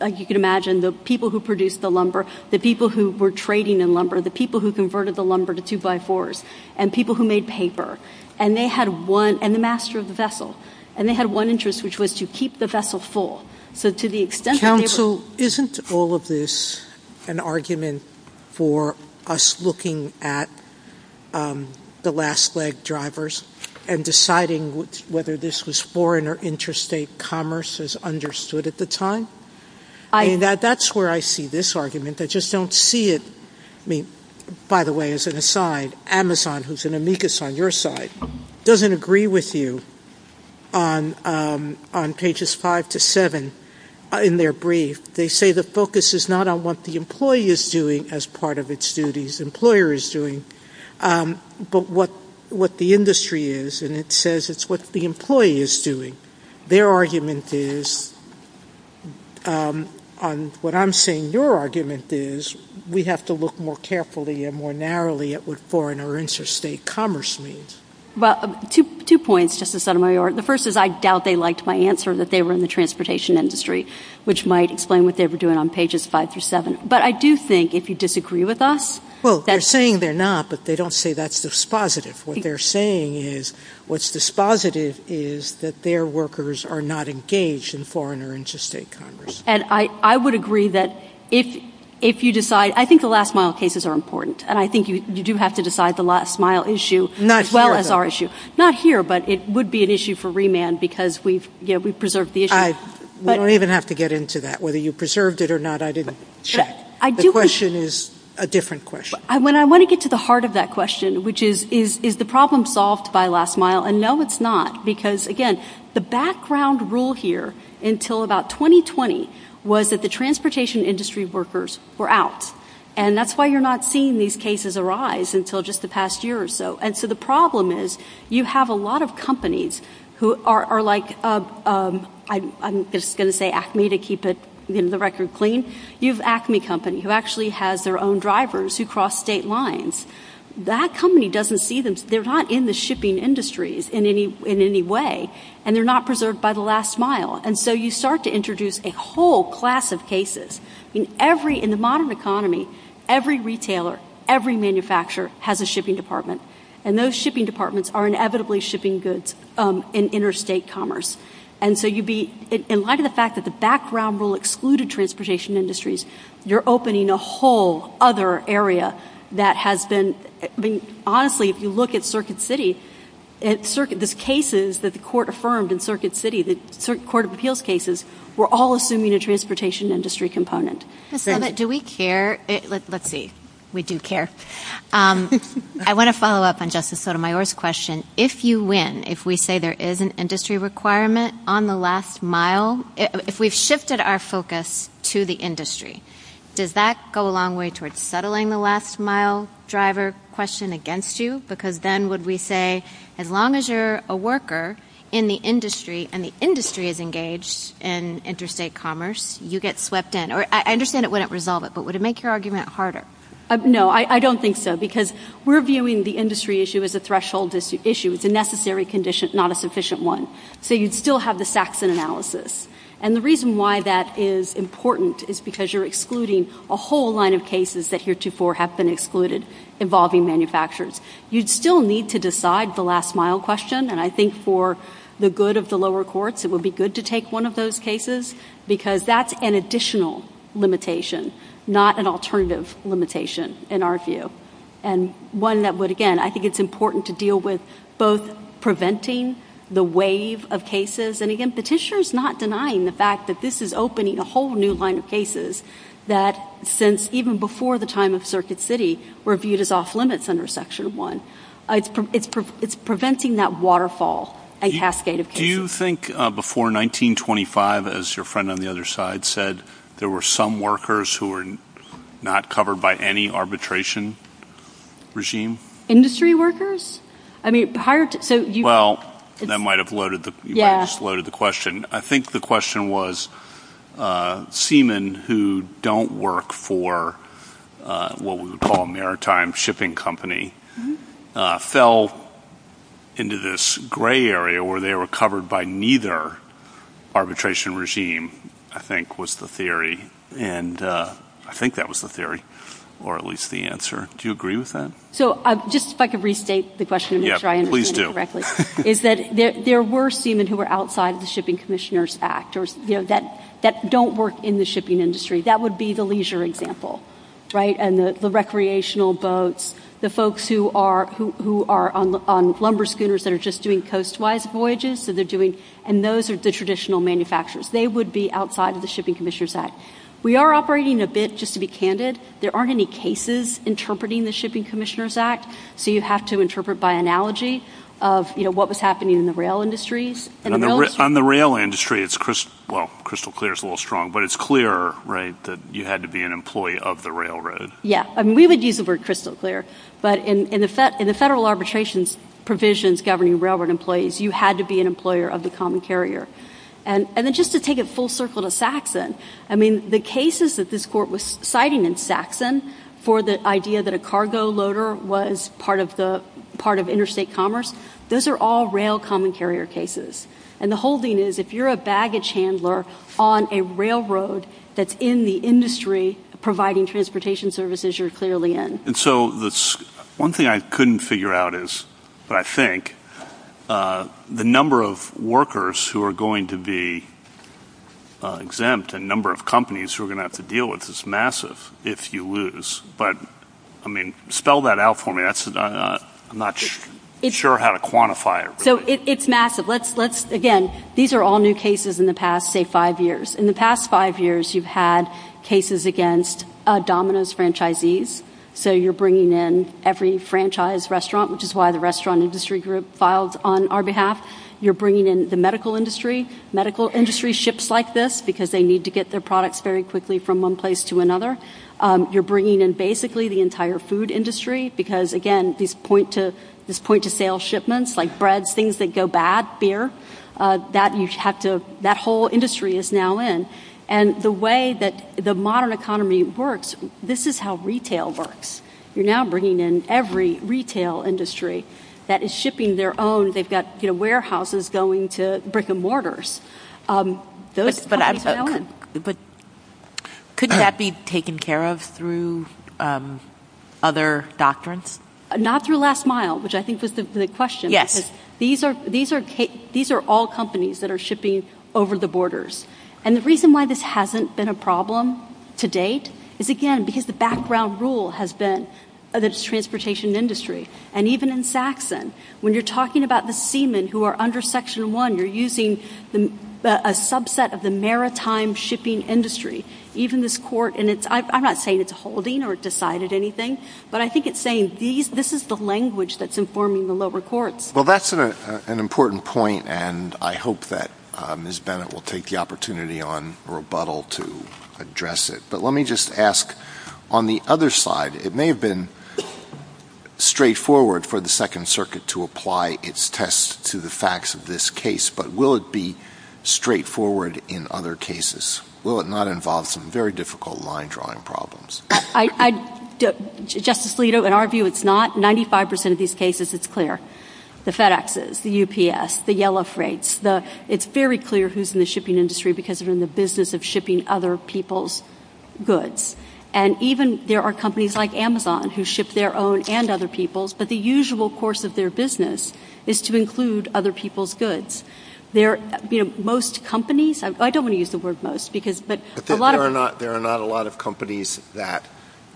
like you can imagine, the people who produced the lumber, the people who were trading in lumber, the people who converted the lumber to two-by-fours, and people who made paper. And they had one, and the master of the vessel. And they had one interest, which was to keep the vessel full. So to the extent that they were- Counsel, isn't all of this an argument for us looking at the last leg drivers and deciding whether this was foreign or interstate commerce as understood at the time? That's where I see this argument. I just don't see it. I mean, by the way, as an aside, Amazon, who's an amicus on your side, doesn't agree with you on pages five to seven in their brief. They say the focus is not on what the employee is doing as part of its duties, the employer is doing, but what the industry is, and it says it's what the employee is doing. Their argument is, what I'm saying your argument is, we have to look more carefully and more narrowly at what foreign or interstate commerce means. Well, two points, Justice Sotomayor. The first is, I doubt they liked my answer that they were in the transportation industry, which might explain what they were doing on pages five through seven. But I do think, if you disagree with us- Well, they're saying they're not, but they don't say that's dispositive. What they're saying is, what's dispositive is that their workers are not engaged in foreign or interstate commerce. And I would agree that if you decide, I think the last mile cases are important, and I think you do have to decide the last mile issue as well as our issue. Not here, but it would be an issue for remand because we've preserved the issue. We don't even have to get into that, whether you preserved it or not, I didn't check. The question is a different question. When I want to get to the heart of that question, which is, is the problem solved by last mile? And no, it's not, because again, the background rule here until about 2020 was that the transportation industry workers were out. And that's why you're not seeing these cases arise until just the past year or so. And so the problem is, you have a lot of companies who are like, I'm just going to say Acme to keep it, you know, the record clean. You have Acme company who actually has their own drivers who cross state lines. That company doesn't see them. They're not in the shipping industries in any way, and they're not preserved by the last mile. And so you start to introduce a whole class of cases. In the modern economy, every retailer, every manufacturer has a shipping department. And those shipping departments are inevitably shipping goods in interstate commerce. And so you'd be, in light of the fact that the background rule excluded transportation industries, you're opening a whole other area that has been, I mean, honestly, if you look at Circuit City, the cases that the court affirmed in Circuit City, the Court of Appeals cases were all assuming a transportation industry component. Ms. Summit, do we care? Let's see. We do care. I want to follow up on Justice Sotomayor's question. If you win, if we say there is an industry requirement on the last mile, if we've shifted our focus to the industry, does that go a long way towards settling the last mile driver question against you? Because then would we say, as long as you're a worker in the industry and the industry is engaged in interstate commerce, you get swept in? Or I understand it wouldn't resolve it, but would it make your argument harder? No, I don't think so. Because we're viewing the industry issue as a threshold issue. It's a necessary condition, not a sufficient one. So you'd still have the Saxon analysis. And the reason why that is important is because you're excluding a whole line of cases that heretofore have been excluded involving manufacturers. You'd still need to decide the last mile question, and I think for the good of the lower courts, it would be good to take one of those cases, because that's an additional limitation, not an alternative limitation, in our view. And one that would, again, I think it's important to deal with both preventing the wave of cases, and again, Petitioner's not denying the fact that this is opening a whole new line of cases that since even before the time of Circuit City were viewed as off-limits under Section 1. It's preventing that waterfall and cascade of cases. Do you think before 1925, as your friend on the other side said, there were some workers who were not covered by any arbitration regime? Industry workers? I mean, higher... So you... Well, that might have loaded the... Yeah. You might have just loaded the question. I think the question was seamen who don't work for what we would call a maritime shipping company fell into this gray area where they were covered by neither arbitration regime, I think, was the theory. And I think that was the theory, or at least the answer. Do you agree with that? So just if I could restate the question to make sure I understand it correctly. Yeah, please do. Is that there were seamen who were outside of the Shipping Commissioners Act, or that don't work in the shipping industry. That would be the leisure example, right? And the recreational boats, the folks who are on lumber schooners that are just doing coast-wise voyages, so they're doing... And those are the traditional manufacturers. They would be outside of the Shipping Commissioners Act. We are operating a bit, just to be candid, there aren't any cases interpreting the Shipping Commissioners Act. So you have to interpret by analogy of what was happening in the rail industries. On the rail industry, it's crystal... Well, crystal clear is a little strong, but it's clear, right, that you had to be an employee of the railroad. Yeah. I mean, we would use the word crystal clear, but in the federal arbitrations provisions governing railroad employees, you had to be an employer of the common carrier. And then just to take it full circle to Saxon, I mean, the cases that this court was citing in Saxon for the idea that a cargo loader was part of interstate commerce, those are all rail common carrier cases. And the holding is, if you're a baggage handler on a railroad that's in the industry providing transportation services, you're clearly in. And so one thing I couldn't figure out is, but I think, the number of workers who are going to be exempt and number of companies who are going to have to deal with this massive if you lose. But I mean, spell that out for me, I'm not sure how to quantify it. So it's massive. Let's, again, these are all new cases in the past, say, five years. In the past five years, you've had cases against Domino's franchisees. So you're bringing in every franchise restaurant, which is why the restaurant industry group filed on our behalf. You're bringing in the medical industry. Medical industry ships like this because they need to get their products very quickly from one place to another. You're bringing in, basically, the entire food industry because, again, these point-to-sale shipments like breads, things that go bad, beer, that whole industry is now in. And the way that the modern economy works, this is how retail works. You're now bringing in every retail industry that is shipping their own. They've got warehouses going to brick and mortars. Those companies are now in. But couldn't that be taken care of through other doctrines? Not through Last Mile, which I think was the question. Yes. Because these are all companies that are shipping over the borders. And the reason why this hasn't been a problem to date is, again, because the background rule has been that it's a transportation industry. And even in Saxon, when you're talking about the seamen who are under Section 1, you're using a subset of the maritime shipping industry. Even this court, and I'm not saying it's a holding or decided anything, but I think it's saying this is the language that's informing the lower courts. Well, that's an important point, and I hope that Ms. Bennett will take the opportunity on rebuttal to address it. But let me just ask, on the other side. It may have been straightforward for the Second Circuit to apply its tests to the facts of this case, but will it be straightforward in other cases? Will it not involve some very difficult line-drawing problems? Justice Alito, in our view, it's not. Ninety-five percent of these cases, it's clear. The FedExes, the UPS, the Yellow Freights, it's very clear who's in the shipping industry because they're in the business of shipping other people's goods. And even there are companies like Amazon who ship their own and other people's, but the usual course of their business is to include other people's goods. They're, you know, most companies, I don't want to use the word most because, but a lot of them. There are not a lot of companies that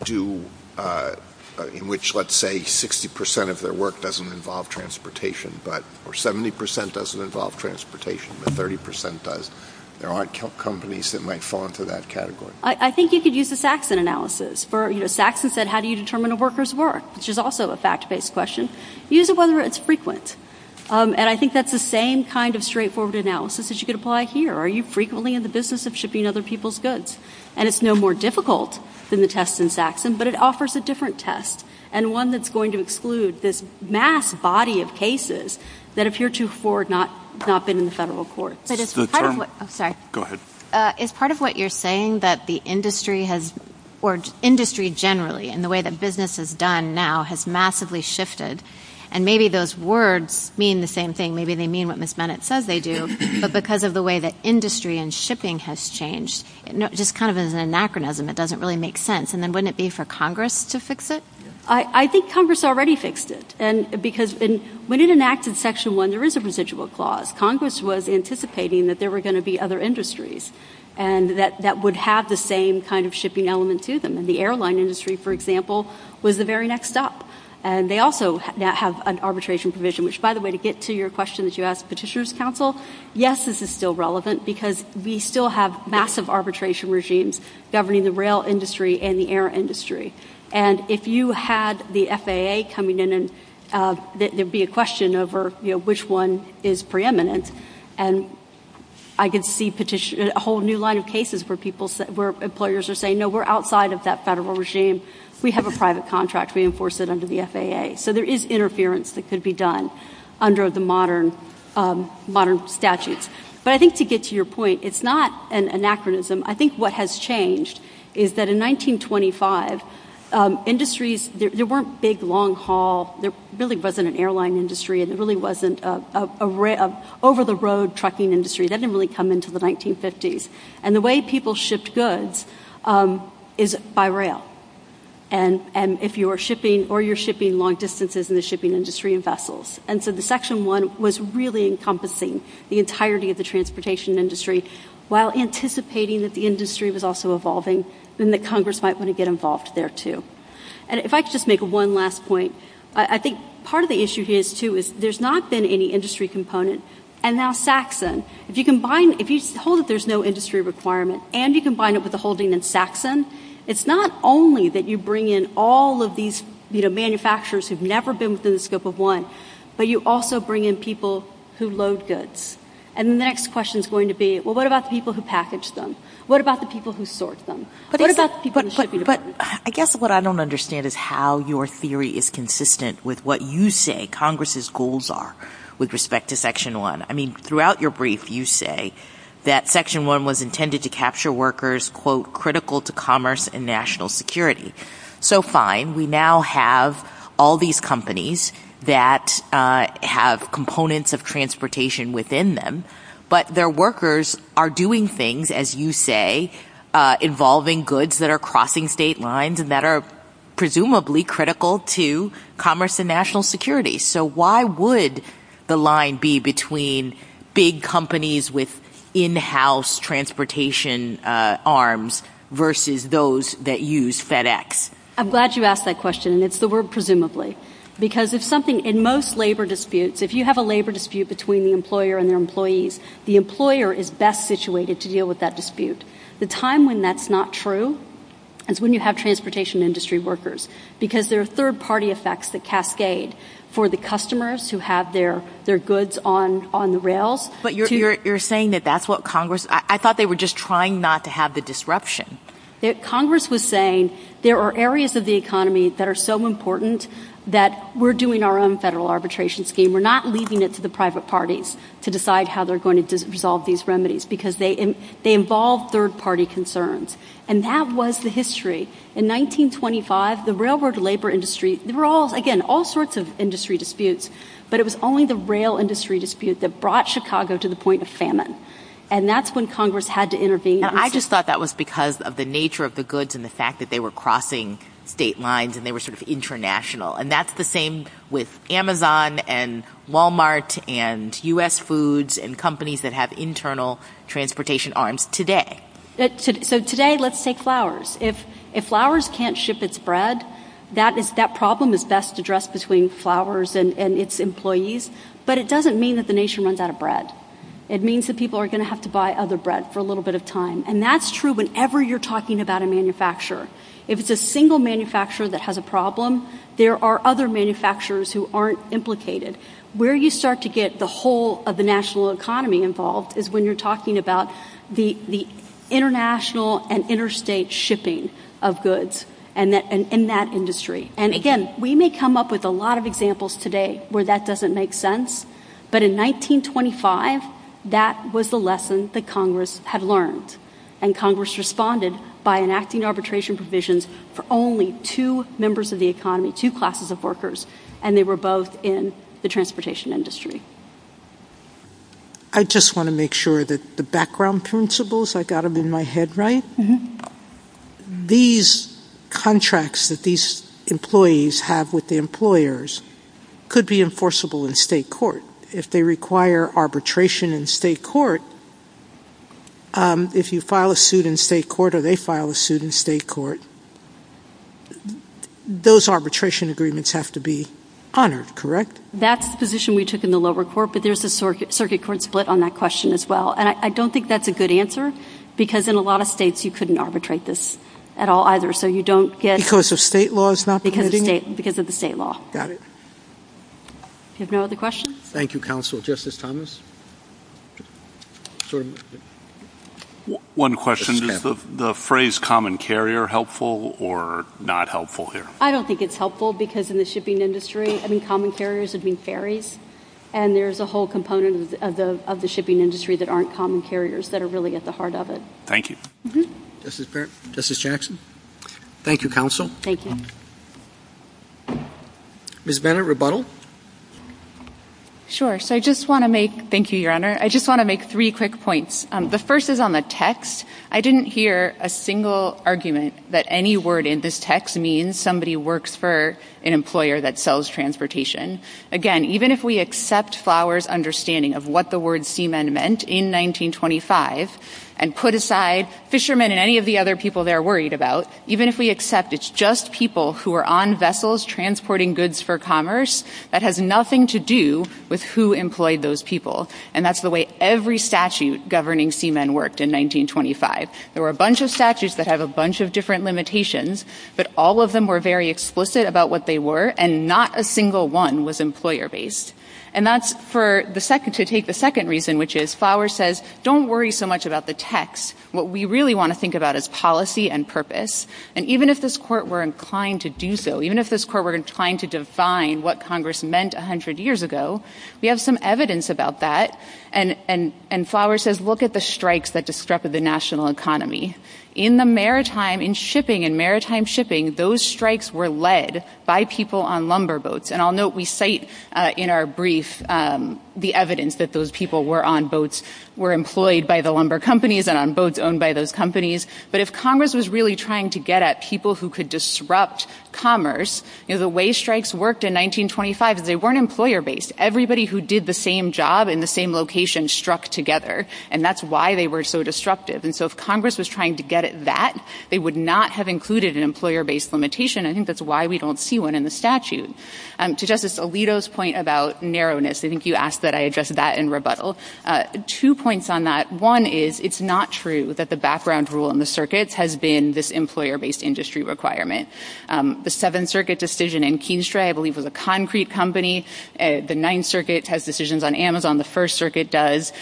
do, in which, let's say, 60 percent of their work doesn't involve transportation, but, or 70 percent doesn't involve transportation, but 30 percent does. There aren't companies that might fall into that category. I think you could use the Saxon analysis for, you know, Saxon said, how do you determine a worker's work, which is also a fact-based question. Use it whether it's frequent. And I think that's the same kind of straightforward analysis that you could apply here. Are you frequently in the business of shipping other people's goods? And it's no more difficult than the test in Saxon, but it offers a different test and one that's going to exclude this mass body of cases that appear to have not been in the federal courts. Sorry. Go ahead. Is part of what you're saying that the industry has, or industry generally, and the way that business is done now has massively shifted, and maybe those words mean the same thing. Maybe they mean what Ms. Bennett says they do, but because of the way that industry and shipping has changed, just kind of as an anachronism, it doesn't really make sense. And then wouldn't it be for Congress to fix it? I think Congress already fixed it. Because when it enacted Section 1, there is a residual clause. Congress was anticipating that there were going to be other industries that would have the same kind of shipping element to them. And the airline industry, for example, was the very next stop. And they also now have an arbitration provision, which, by the way, to get to your question that you asked Petitioner's Counsel, yes, this is still relevant because we still have massive arbitration regimes governing the rail industry and the air industry. And if you had the FAA coming in, there'd be a question over which one is preeminent. And I could see a whole new line of cases where employers are saying, no, we're outside of that federal regime. We have a private contract. We enforce it under the FAA. So there is interference that could be done under the modern statutes. But I think to get to your point, it's not an anachronism. I think what has changed is that in 1925, industries, there weren't big, long haul, there really wasn't an airline industry, and there really wasn't an over-the-road trucking industry. That didn't really come until the 1950s. And the way people shipped goods is by rail, and if you're shipping or you're shipping long distances in the shipping industry in vessels. And so the Section 1 was really encompassing the entirety of the transportation industry while anticipating that the industry was also evolving, and that Congress might want to get involved there, too. And if I could just make one last point, I think part of the issue here, too, is there's not been any industry component. And now Saxon, if you hold that there's no industry requirement and you combine it with the holding in Saxon, it's not only that you bring in all of these manufacturers who've never been within the scope of one, but you also bring in people who load goods. And the next question is going to be, well, what about the people who package them? What about the people who sort them? What about the people in the shipping department? But I guess what I don't understand is how your theory is consistent with what you say Congress's goals are with respect to Section 1. I mean, throughout your brief, you say that Section 1 was intended to capture workers, quote, critical to commerce and national security. So fine, we now have all these companies that have components of transportation within them, but their workers are doing things, as you say, involving goods that are crossing state lines and that are presumably critical to commerce and national security. So why would the line be between big companies with in-house transportation arms versus those that use FedEx? I'm glad you asked that question, and it's the word presumably, because if something in most labor disputes, if you have a labor dispute between the employer and their employees, the employer is best situated to deal with that dispute. The time when that's not true is when you have transportation industry workers, because there are third party effects that cascade for the customers who have their goods on the rails. But you're saying that that's what Congress, I thought they were just trying not to have the disruption. Congress was saying there are areas of the economy that are so important that we're doing our own federal arbitration scheme. We're not leaving it to the private parties to decide how they're going to resolve these remedies, because they involve third party concerns. And that was the history. In 1925, the railroad labor industry, there were all, again, all sorts of industry disputes, but it was only the rail industry dispute that brought Chicago to the point of famine. And that's when Congress had to intervene. I just thought that was because of the nature of the goods and the fact that they were crossing state lines and they were sort of international. And that's the same with Amazon and Walmart and U.S. foods and companies that have internal transportation arms today. So today, let's take flowers. If flowers can't ship its bread, that problem is best addressed between flowers and its employees. But it doesn't mean that the nation runs out of bread. It means that people are going to have to buy other bread for a little bit of time. And that's true whenever you're talking about a manufacturer. If it's a single manufacturer that has a problem, there are other manufacturers who aren't implicated. Where you start to get the whole of the national economy involved is when you're talking about the international and interstate shipping of goods in that industry. And again, we may come up with a lot of examples today where that doesn't make sense. But in 1925, that was the lesson that Congress had learned. And Congress responded by enacting arbitration provisions for only two members of the economy, two classes of workers. And they were both in the transportation industry. I just want to make sure that the background principles, I got them in my head right. These contracts that these employees have with the employers could be enforceable in state court. If they require arbitration in state court, if you file a suit in state court or they file a suit in state court, those arbitration agreements have to be honored, correct? That's the position we took in the lower court. But there's a circuit court split on that question as well. And I don't think that's a good answer. Because in a lot of states, you couldn't arbitrate this at all either. So you don't get- Because of state laws not permitting it? Because of the state law. Got it. You have no other questions? Thank you, counsel. Justice Thomas? One question. Is the phrase common carrier helpful or not helpful here? I don't think it's helpful. Because in the shipping industry, I mean, common carriers would mean ferries. And there's a whole component of the shipping industry that aren't common carriers that are really at the heart of it. Thank you. Justice Jackson? Thank you, counsel. Thank you. Ms. Bennett, rebuttal? Sure. So I just want to make- thank you, Your Honor. I just want to make three quick points. The first is on the text. I didn't hear a single argument that any word in this text means somebody works for an employer that sells transportation. Again, even if we accept Flowers' understanding of what the word seamen meant in 1925, and put aside fishermen and any of the other people they're worried about, even if we accept it's just people who are on vessels transporting goods for commerce, that has nothing to do with who employed those people. And that's the way every statute governing seamen worked in 1925. There were a bunch of statutes that have a bunch of different limitations. But all of them were very explicit about what they were. And not a single one was employer-based. And that's for the second- to take the second reason, which is Flowers says, don't worry so much about the text. What we really want to think about is policy and purpose. And even if this Court were inclined to do so, even if this Court were inclined to define what Congress meant 100 years ago, we have some evidence about that. And Flowers says, look at the strikes that disrupted the national economy. In the maritime, in shipping, in maritime shipping, those strikes were led by people on lumber boats. And I'll note we cite in our brief the evidence that those people were on boats, were employed by the lumber companies and on boats owned by those companies. But if Congress was really trying to get at people who could disrupt commerce, the way strikes worked in 1925 is they weren't employer-based. Everybody who did the same job in the same location struck together. And that's why they were so disruptive. And so if Congress was trying to get at that, they would not have included an employer-based limitation. I think that's why we don't see one in the statute. To Justice Alito's point about narrowness, I think you asked that I address that in rebuttal. Two points on that. One is it's not true that the background rule in the circuits has been this employer-based industry requirement. The Seventh Circuit decision in Keenestray, I believe, was a concrete company. The Ninth Circuit has decisions on Amazon. The First Circuit does.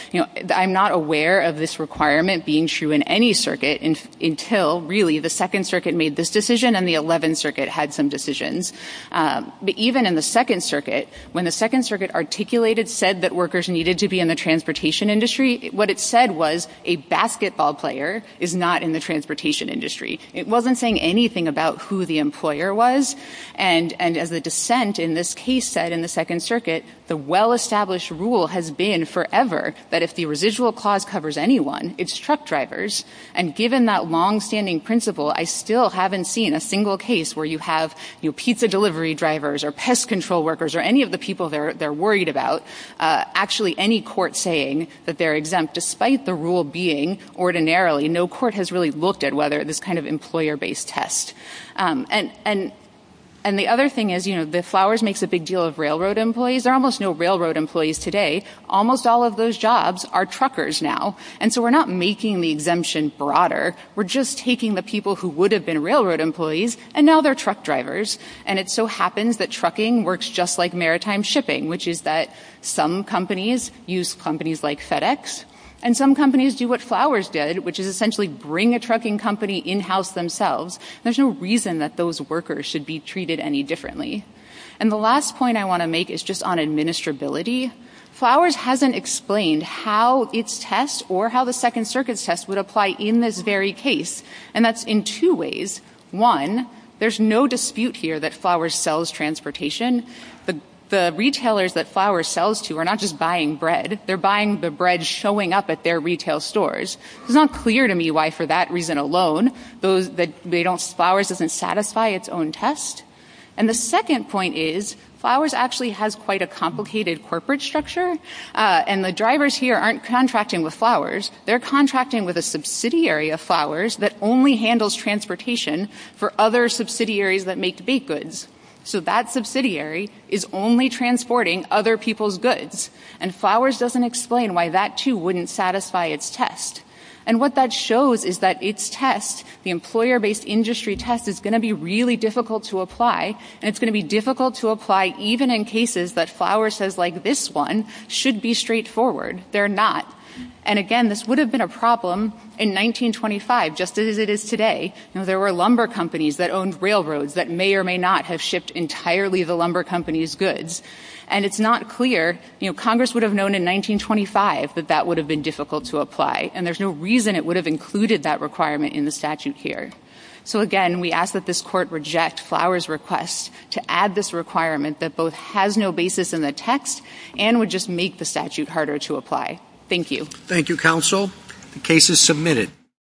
I'm not aware of this requirement being true in any circuit until, really, the Second Circuit made this decision and the Eleventh Circuit had some decisions. But even in the Second Circuit, when the Second Circuit articulated, said that workers needed to be in the transportation industry, what it said was a basketball player is not in the transportation industry. It wasn't saying anything about who the employer was. And as the dissent in this case said in the Second Circuit, the well-established rule has been forever that if the residual clause covers anyone, it's truck drivers. And given that longstanding principle, I still haven't seen a single case where you have pizza delivery drivers or pest control workers or any of the people they're worried about. Actually, any court saying that they're exempt, despite the rule being ordinarily, no court has really looked at whether this kind of employer-based test. And the other thing is, you know, the Flowers makes a big deal of railroad employees. There are almost no railroad employees today. Almost all of those jobs are truckers now. And so we're not making the exemption broader. We're just taking the people who would have been railroad employees, and now they're truck drivers. And it so happens that trucking works just like maritime shipping, which is that some companies use companies like FedEx. And some companies do what Flowers did, which is essentially bring a trucking company in house themselves. There's no reason that those workers should be treated any differently. And the last point I want to make is just on administrability. Flowers hasn't explained how its test or how the Second Circuit's test would apply in this very case. And that's in two ways. One, there's no dispute here that Flowers sells transportation. The retailers that Flowers sells to are not just buying bread. They're buying the bread showing up at their retail stores. It's not clear to me why, for that reason alone, Flowers doesn't satisfy its own test. And the second point is, Flowers actually has quite a complicated corporate structure. And the drivers here aren't contracting with Flowers. They're contracting with a subsidiary of Flowers that only handles transportation for other subsidiaries that make baked goods. So that subsidiary is only transporting other people's goods. And Flowers doesn't explain why that, too, wouldn't satisfy its test. And what that shows is that its test, the employer-based industry test, is going to be really difficult to apply. And it's going to be difficult to apply even in cases that Flowers says, like this one, should be straightforward. They're not. And again, this would have been a problem in 1925, just as it is today. There were lumber companies that owned railroads that may or may not have shipped entirely the lumber company's goods. And it's not clear. Congress would have known in 1925 that that would have been difficult to apply. And there's no reason it would have included that requirement in the statute here. So again, we ask that this court reject Flowers' request to add this requirement that both Thank you. Thank you, counsel. The case is submitted.